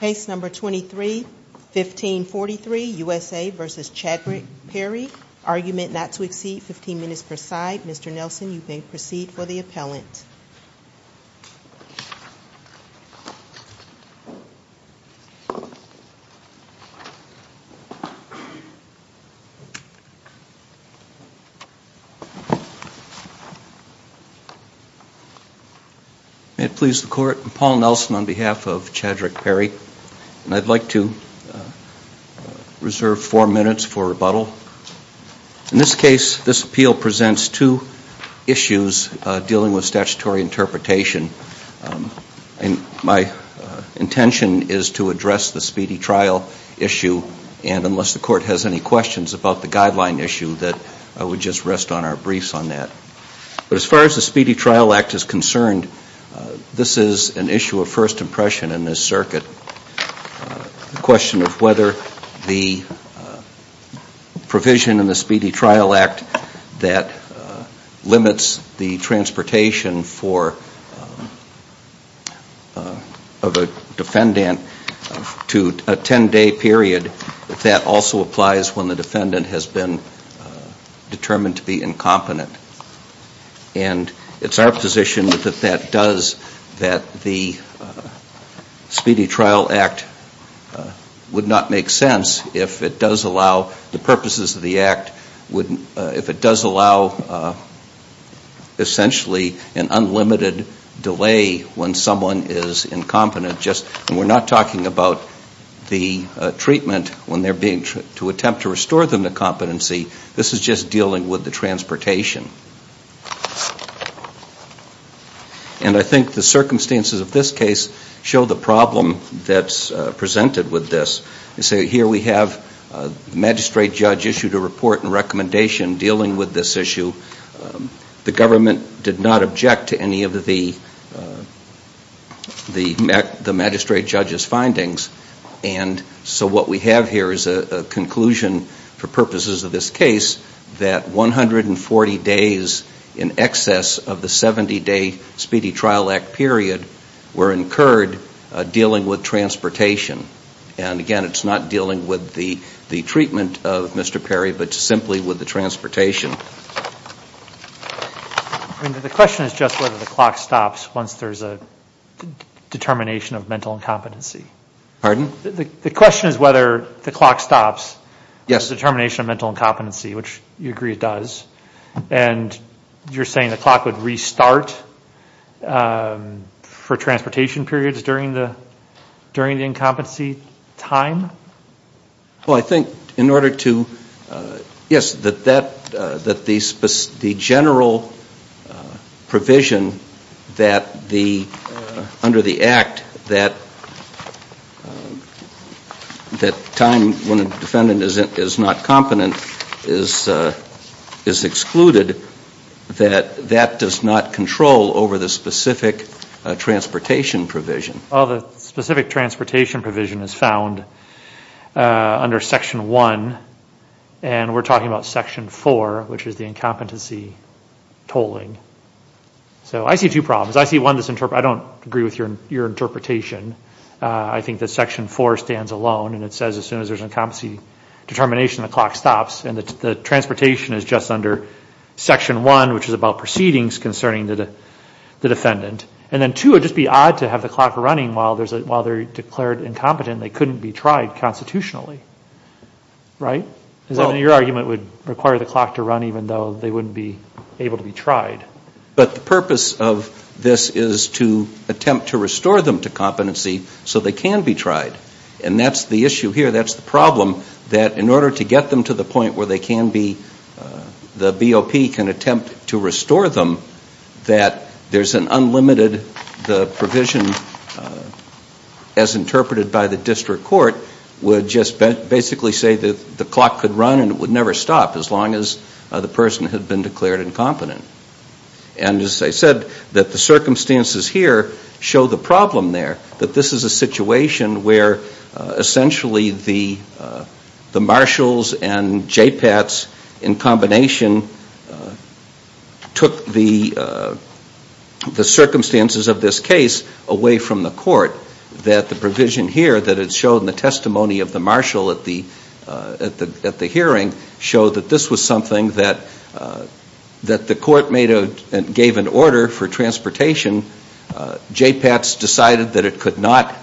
Case No. 23-1543, USA v. Chadrick Perry, Argument not to exceed 15 minutes per side. Mr. Nelson, you may proceed for the appellant. May it please the Court, I'm Paul Nelson on behalf of Chadrick Perry, and I'd like to reserve four minutes for rebuttal. In this case, this appeal presents two issues dealing with statutory interpretation, and my intention is to address the Speedy Trial issue, and unless the Court has any questions about the guideline issue, I would just rest on our briefs on that. But as far as the Speedy Trial Act is concerned, this is an issue of first impression in this circuit. The question of whether the provision in the Speedy Trial Act that limits the transportation of a defendant to a 10-day period, if that also applies when the defendant has been determined to be incompetent. And it's our position that that does, that the Speedy Trial Act would not make sense if it does allow, the purposes of the act, if it does allow, essentially an unlimited delay when someone is incompetent. We're not talking about the treatment when they're being, to attempt to restore them to competency, this is just dealing with the transportation. And I think the circumstances of this case show the problem that's presented with this. magistrate judge issued a report and recommendation dealing with this issue. The government did not object to any of the magistrate judge's findings, and so what we have here is a conclusion for purposes of this case that 140 days in excess of the 70-day Speedy Trial Act period were incurred dealing with transportation. And again, it's not dealing with the treatment of Mr. Perry, but simply with the transportation. I mean, the question is just whether the clock stops once there's a determination of mental incompetency. Pardon? The question is whether the clock stops. Yes. The determination of mental incompetency, which you agree it does. And you're saying the clock would restart for transportation periods during the incompetency time? Well, I think in order to, yes, that the general provision that the, under the Act, that time when a defendant is not competent is excluded, that that does not control over the specific transportation provision. Well, the specific transportation provision is found under Section 1, and we're talking about Section 4, which is the incompetency tolling. So I see two problems. I see one that's, I don't agree with your interpretation. I think that Section 4 stands alone, and it says as soon as there's an incompetency determination, the clock stops, and the transportation is just under Section 1, which is about proceedings concerning the defendant. And then two, it would just be odd to have the clock running while there's a, while they're declared incompetent, they couldn't be tried constitutionally. Right? I mean, your argument would require the clock to run even though they wouldn't be able to be tried. But the purpose of this is to attempt to restore them to competency so they can be tried. And that's the issue here. That's the problem, that in order to get them to the point where they can be, the BOP can attempt to restore them, that there's an unlimited, the provision as interpreted by the district court would just basically say that the clock could run and it would never stop as long as the person had been declared incompetent. And as I said, that the circumstances here show the problem there, that this is a situation where essentially the marshals and JPATs in combination took the circumstances of this case away from the court. That the provision here that is shown in the testimony of the marshal at the hearing showed that this was something that the court made a, gave an order for transportation. JPATs decided that it could not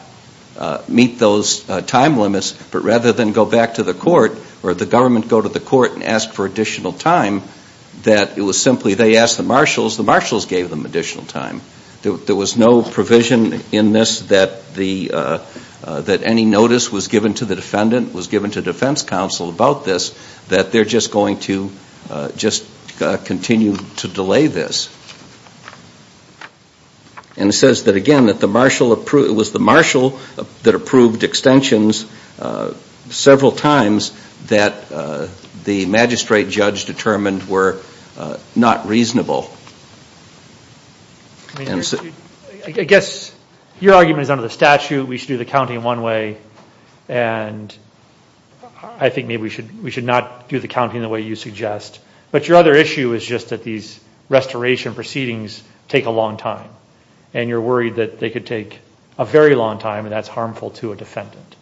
meet those time limits, but rather than go back to the court or the government go to the court and ask for additional time, that it was simply they asked the marshals, the marshals gave them additional time. There was no provision in this that any notice was given to the defendant, was given to defense counsel about this, that they're just going to continue to delay this. And it says that again, that the marshal, it was the marshal that approved extensions several times that the magistrate judge determined were not reasonable. I guess your argument is under the statute, we should do the counting one way, and I think maybe we should not do the counting the way you suggest. But your other issue is just that these restoration proceedings take a long time. And you're worried that they could take a very long time and that's harmful to a defendant.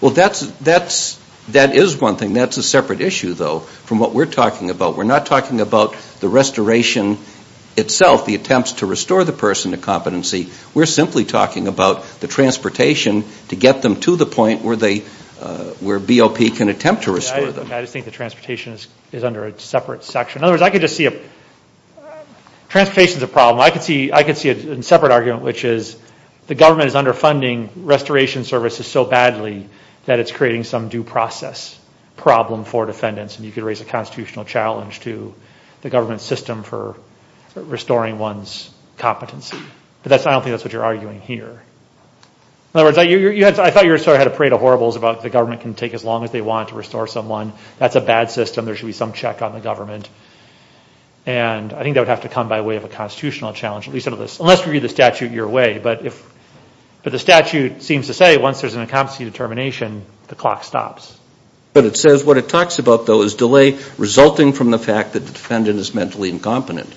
Well, that's, that's, that is one thing. That's a separate issue, though, from what we're talking about. We're not talking about the restoration itself, the attempts to restore the person to competency. We're simply talking about the transportation to get them to the point where they, where BOP can attempt to restore them. I just think the transportation is under a separate section. In other words, I could just see a, transportation's a problem. I could see, I could see a separate argument, which is the government is underfunding restoration services so badly that it's creating some due process problem for defendants, and you could raise a constitutional challenge to the government system for restoring one's competency. But that's, I don't think that's what you're arguing here. In other words, you had, I thought your story had a parade of horribles about the government can take as long as they want to restore someone. That's a bad system. There should be some check on the government. And I think that would have to come by way of a constitutional challenge, at least under this, unless we view the statute your way. But if, but the statute seems to say once there's an incompetency determination, the clock stops. But it says, what it talks about though is delay resulting from the fact that the defendant is mentally incompetent.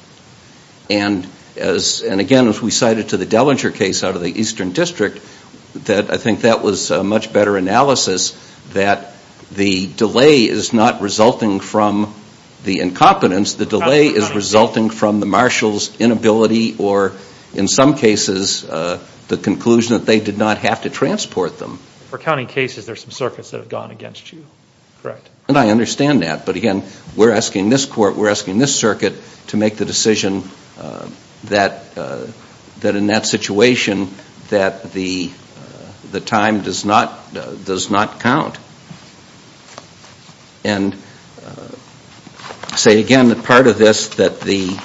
And as, and again, as we cited to the Dellinger case out of the Eastern District, that I think that was a much better analysis that the delay is not resulting from the incompetence, the delay is resulting from the marshal's inability or in some cases, the conclusion that they did not have to transport them. For counting cases, there's some circuits that have gone against you, correct? And I understand that. But again, we're asking this court, we're asking this circuit to make the decision that in that situation, that the time does not count. And say again that part of this, that the,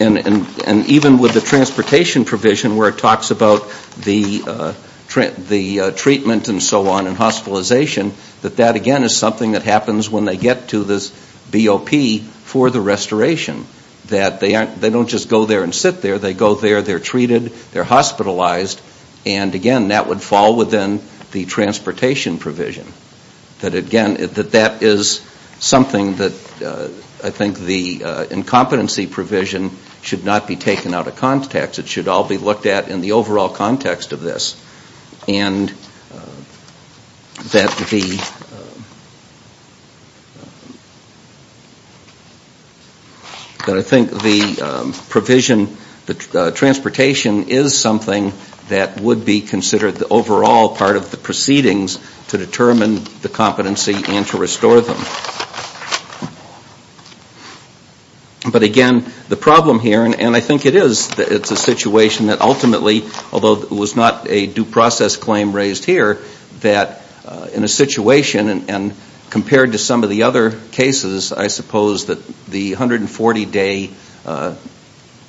and even with the transportation provision where it talks about the treatment and so on and hospitalization, that that again is something that happens when they get to this BOP for the restoration. That they don't just go there and sit there, they go there, they're treated, they're hospitalized, and again, that would fall within the transportation provision. That again, that that is something that I think the incompetency provision should not be taken out of context. It should all be looked at in the overall context of this. And that the, that I think the provision, the transportation is something that would be considered the overall part of the proceedings to determine the competency and to restore them. But again, the problem here, and I think it is, it's a situation that ultimately, although it was not a due process claim raised here, that in a situation, and compared to some of the other cases, I suppose that the 140 day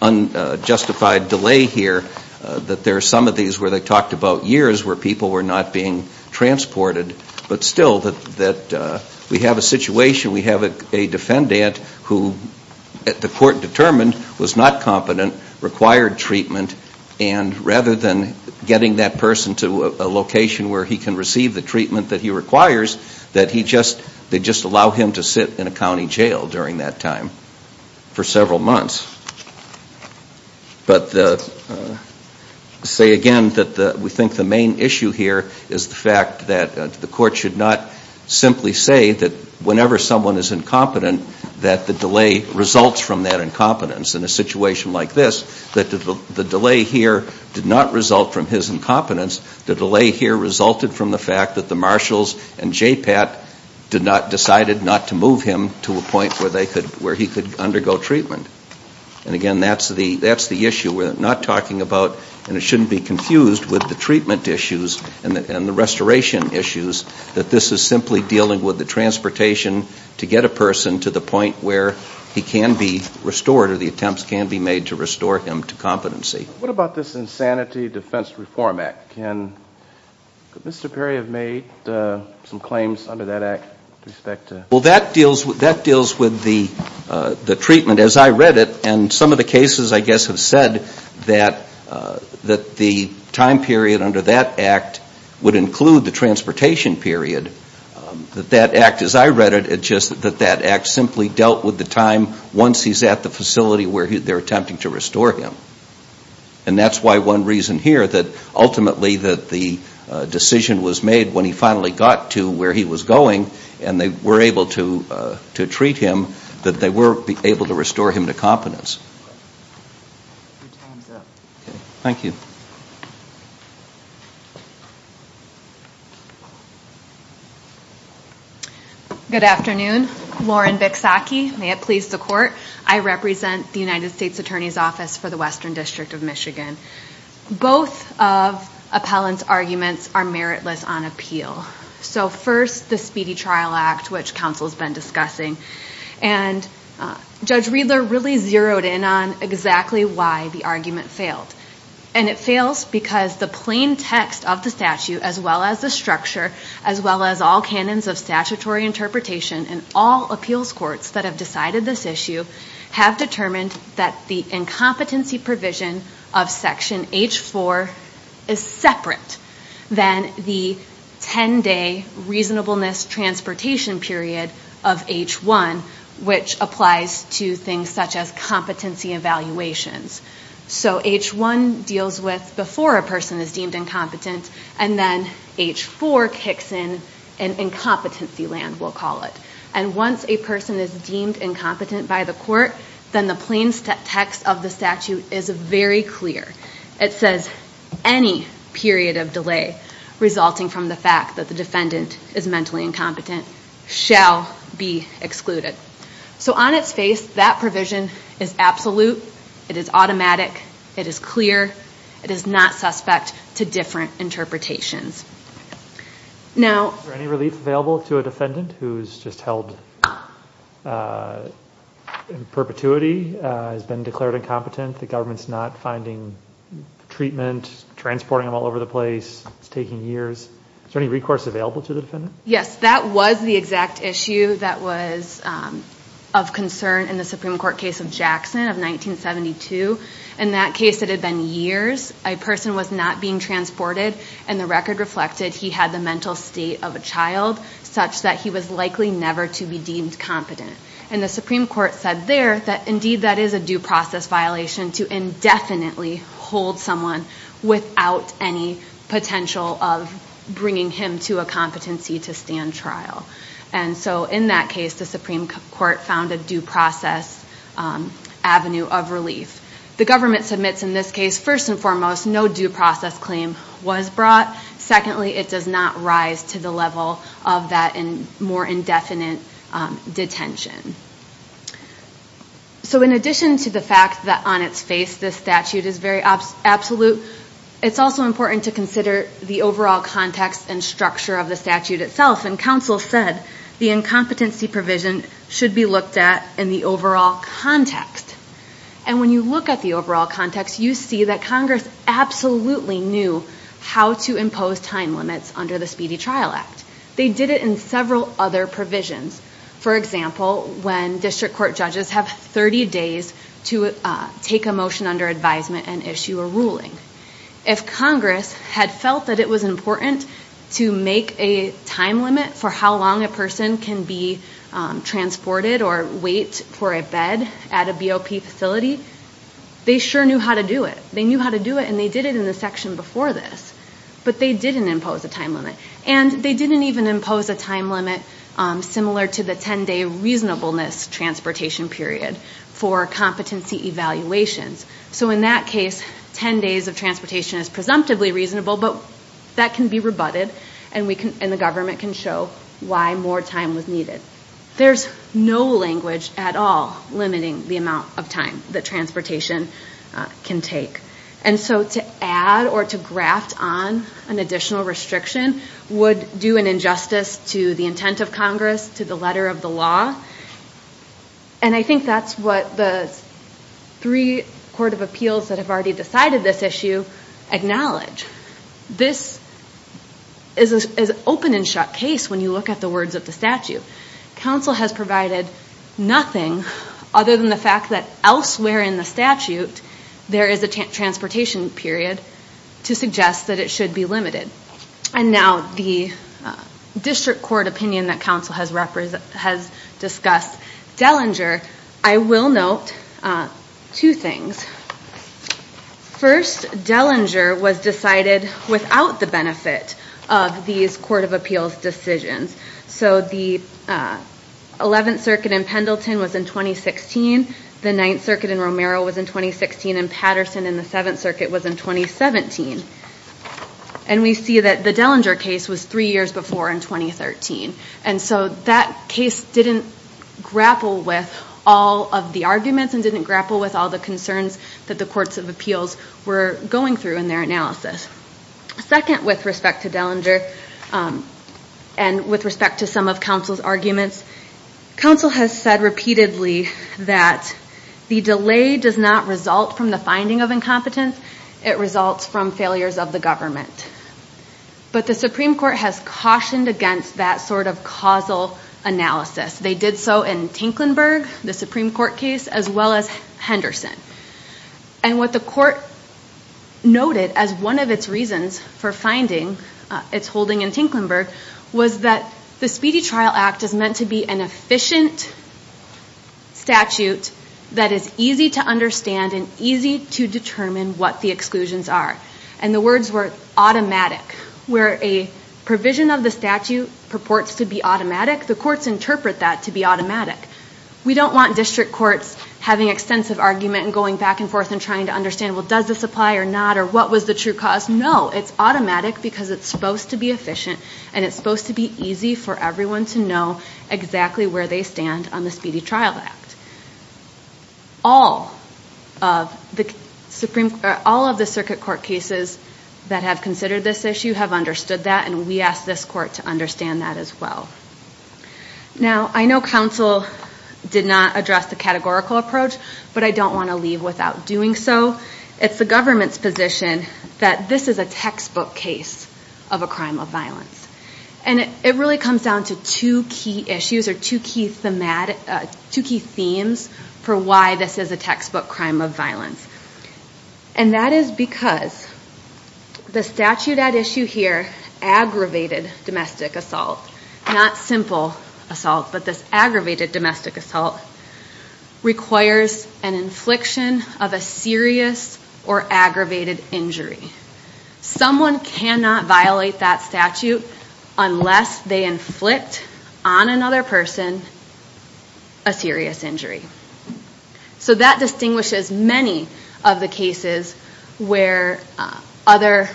unjustified delay here, that there are some of these where they talked about years where people were not being transported, but still that we have a situation where people are not being transported. In addition, we have a defendant who the court determined was not competent, required treatment, and rather than getting that person to a location where he can receive the treatment that he requires, that he just, they just allow him to sit in a county jail during that time for several months. But say again, that we think the main issue here is the fact that the court should not simply say that whenever someone is incompetent, that the delay results from that incompetence. In a situation like this, that the delay here did not result from his incompetence, the delay here resulted from the fact that the marshals and JPAT did not, decided not to move him to a point where they could, where he could undergo treatment. And again, that's the issue. We're not talking about, and it shouldn't be confused with the treatment issues and the restoration issues, that this is simply dealing with the transportation to get a person to the point where he can be restored or the attempts can be made to restore him to competency. What about this Insanity Defense Reform Act? Can, could Mr. Perry have made some claims under that act with respect to? Well that deals, that deals with the treatment as I read it and some of the cases I guess have said that the time period under that act would include the transportation period. That that act as I read it, it just, that that act simply dealt with the time once he's at the facility where they're attempting to restore him. And that's why one reason here that ultimately that the decision was made when he finally got to where he was going and they were able to, to treat him, that they were able to restore him to competence. Thank you. Good afternoon. Lauren Bicksaki, may it please the court. I represent the United States Attorney's Office for the Western District of Michigan. Both of Appellant's arguments are meritless on appeal. So first, the Speedy Trial Act, which counsel's been discussing, and Judge Riedler really zeroed in on exactly why the argument failed. And it fails because the plain text of the statute, as well as the structure, as well as all canons of statutory interpretation and all appeals courts that have decided this issue, have determined that the incompetency provision of Section H4 is separate than the 10-day reasonableness transportation period of H1, which applies to things such as competency evaluations. So H1 deals with before a person is deemed incompetent, and then H4 kicks in an incompetency land, we'll call it. And once a person is deemed incompetent by the court, then the plain text of the statute is very clear. It says any period of delay resulting from the fact that the defendant is mentally incompetent shall be excluded. So on its face, that provision is absolute, it is automatic, it is clear, it is not suspect to different interpretations. Now... Is there any relief available to a defendant who's just held in perpetuity, has been declared incompetent, the government's not finding treatment, transporting them all over the place, it's taking years. Is there any recourse available to the defendant? Yes, that was the exact issue that was of concern in the Supreme Court case of Jackson of 1972. In that case, it had been years. A person was not being transported, and the record reflected he had the mental state of a child such that he was likely never to be deemed competent. And the Supreme Court said there that indeed that is a due process violation to indefinitely hold someone without any potential of bringing him to a competency to stand trial. And so in that case, the Supreme Court found a due process avenue of relief. The government submits in this case, first and foremost, no due process claim was brought. Secondly, it does not rise to the level of that more indefinite detention. So in addition to the fact that on its face, this statute is very absolute, it's also important to consider the overall context and structure of the statute itself. And counsel said the incompetency provision should be looked at in the overall context. And when you look at the overall context, you see that Congress absolutely knew how to impose time limits under the Speedy Trial Act. They did it in several other provisions. For example, when district court judges have 30 days to take a motion under advisement and issue a ruling. If Congress had felt that it was important to make a time limit for how long a person can be transported or wait for a bed at a BOP facility, they sure knew how to do it. They knew how to do it and they did it in the section before this. But they didn't impose a time limit. And they didn't even impose a time limit similar to the 10-day reasonableness transportation period for competency evaluations. So in that case, 10 days of transportation is presumptively reasonable, but that can be rebutted and the government can show why more time was needed. There's no language at all limiting the amount of time that transportation can take. And so to add or to graft on an additional restriction would do an injustice to the intent of Congress, to the letter of the law. And I think that's what the three court of appeals that have already decided this issue acknowledge. This is an open and shut case when you look at the words of the statute. Council has provided nothing other than the fact that elsewhere in the statute, there is a transportation period to suggest that it should be limited. And now the district court opinion that council has discussed Dellinger, I will note two things. First, Dellinger was decided without the benefit of these court of appeals decisions. So the 11th circuit in Pendleton was in 2016, the 9th circuit in Romero was in 2016, and Patterson in the 7th circuit was in 2017. And we see that the Dellinger case was three years before in 2013. And so that case didn't grapple with all of the arguments and didn't grapple with all the concerns that the courts of appeals were going through in their analysis. Second, with respect to Dellinger, and with respect to some of council's arguments, council has said repeatedly that the delay does not result from the finding of incompetence, it results from failures of the government. But the Supreme Court has cautioned against that sort of causal analysis. They did so in Tinklenburg, the Supreme Court case, as well as Henderson. And what the court noted as one of its reasons for finding its holding in Tinklenburg was that the Speedy Trial Act is meant to be an efficient statute that is easy to understand and easy to determine what the exclusions are. And the words were automatic. Where a provision of the statute purports to be automatic, the courts interpret that to be automatic. We don't want district courts having extensive argument and going back and forth and trying to understand, well, does this apply or not, or what was the true cause? No, it's automatic because it's supposed to be efficient, and it's supposed to be easy for everyone to know exactly where they stand on the Speedy Trial Act. All of the circuit court cases that have considered this issue have understood that, and we ask this court to understand that as well. Now, I know counsel did not address the categorical approach, but I don't want to leave without doing so. It's the government's position that this is a textbook case of a crime of violence. And it really comes down to two key issues or two key themes for why this is a textbook crime of violence. And that is because the statute at issue here, aggravated domestic assault, not simple assault, but this aggravated domestic assault, requires an infliction of a serious or aggravated injury. Someone cannot violate that statute unless they inflict on another person a serious injury. So that distinguishes many of the cases where other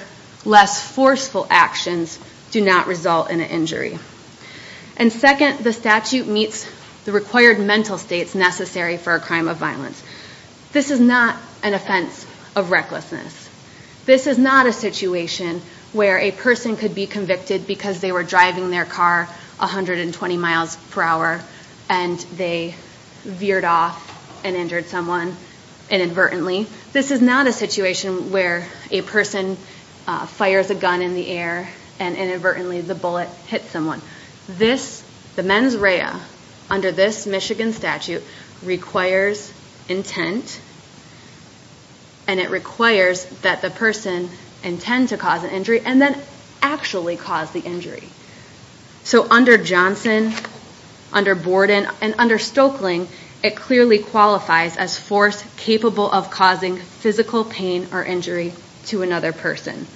less forceful actions do not result in an injury. And second, the statute meets the required mental states necessary for a crime of violence. This is not an offense of recklessness. This is not a situation where a person could be convicted because they were driving their car 120 miles per hour and they veered off and injured someone inadvertently. This is not a situation where a person fires a gun in the air and inadvertently the bullet hits someone. The mens rea under this Michigan statute requires intent and it requires that the person intend to cause an injury and then actually cause the injury. So under Johnson, under Borden, and under Stoeckling, it clearly qualifies as force capable of causing physical pain or injury to another person.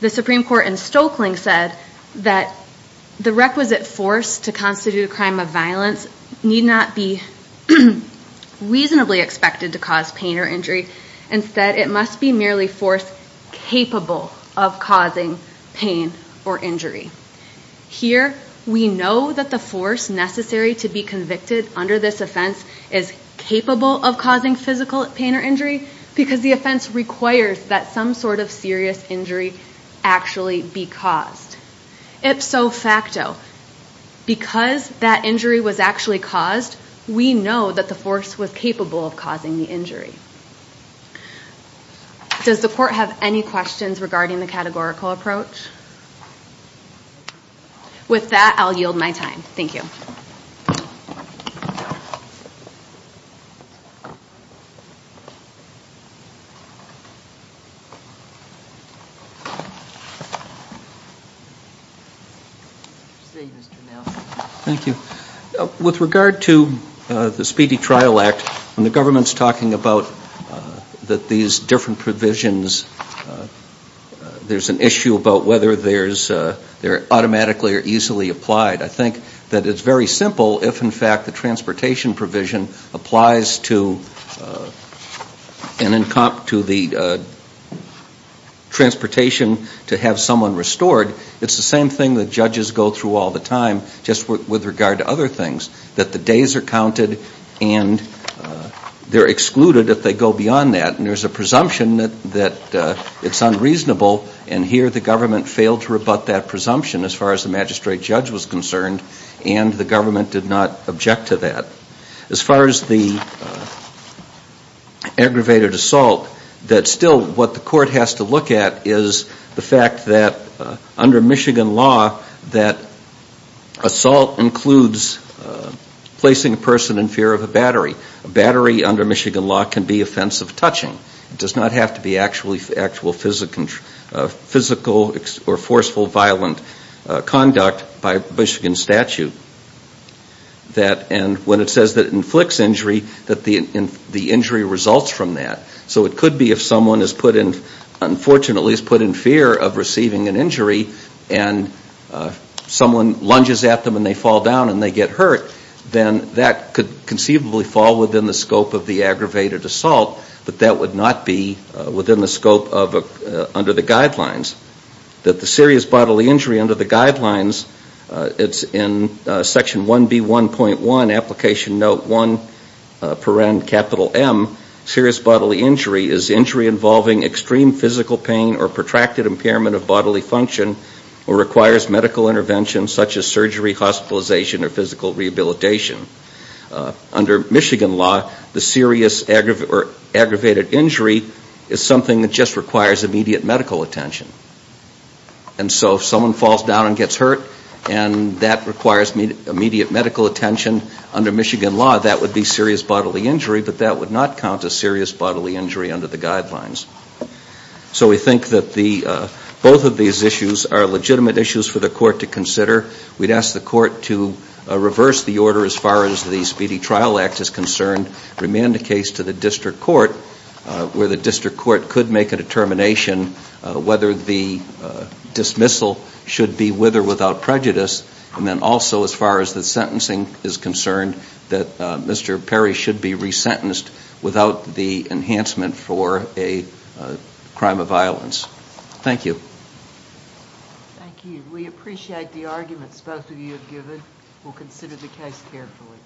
The Supreme Court in Stoeckling said that the requisite force to constitute a crime of violence need not be reasonably expected to cause pain or injury. Instead, it must be merely force capable of causing pain or injury. Here, we know that the force necessary to be convicted under this offense is capable of causing physical pain or injury because the offense requires that some sort of serious injury actually be caused. Ipso facto, because that injury was actually caused, we know that the force was capable of causing the injury. Does the court have any questions regarding the categorical approach? With that, I'll yield my time. Thank you. Thank you. With regard to the Speedy Trial Act, when the government's talking about these different provisions, there's an issue about whether they're automatically or easily applied. I think that it's very simple if, in fact, the transportation provision applies to the transportation to have someone restored. It's the same thing that judges go through all the time just with regard to other things, that the days are counted and they're excluded if they go beyond that. And there's a presumption that it's unreasonable, and here the government failed to rebut that presumption as far as the magistrate judge was concerned, and the government did not object to that. As far as the aggravated assault, that still what the court has to look at is the fact that under Michigan law, that assault includes placing a person in fear of a battery. A battery under Michigan law can be offensive touching. It does not have to be actual physical or forceful violent conduct by Michigan statute. And when it says that it inflicts injury, that the injury results from that. So it could be if someone is put in fear of receiving an injury and someone lunges at them and they fall down and they get hurt, then that could conceivably fall within the scope of the aggravated assault, but that would not be within the scope under the guidelines. That the serious bodily injury under the guidelines, it's in section 1B1.1, application note 1, per end, capital M, serious bodily injury is injury involving extreme physical pain or protracted impairment of bodily function or requires medical intervention such as surgery, hospitalization or physical rehabilitation. Under Michigan law, the serious aggravated injury is something that just requires immediate medical attention. And so if someone falls down and gets hurt, and that requires immediate medical attention, under Michigan law, that would be serious bodily injury, but that would not count as serious bodily injury under the guidelines. So we think that both of these issues are legitimate issues for the court to consider. We'd ask the court to reverse the order as far as the Speedy Trial Act is concerned, remand the case to the district court where the district court could make a determination whether the dismissal should be with or without prejudice. And then also as far as the sentencing is concerned, that Mr. Perry should be resentenced without the enhancement for a crime of violence. Thank you. Thank you. We appreciate the arguments both of you have given. We'll consider the case carefully.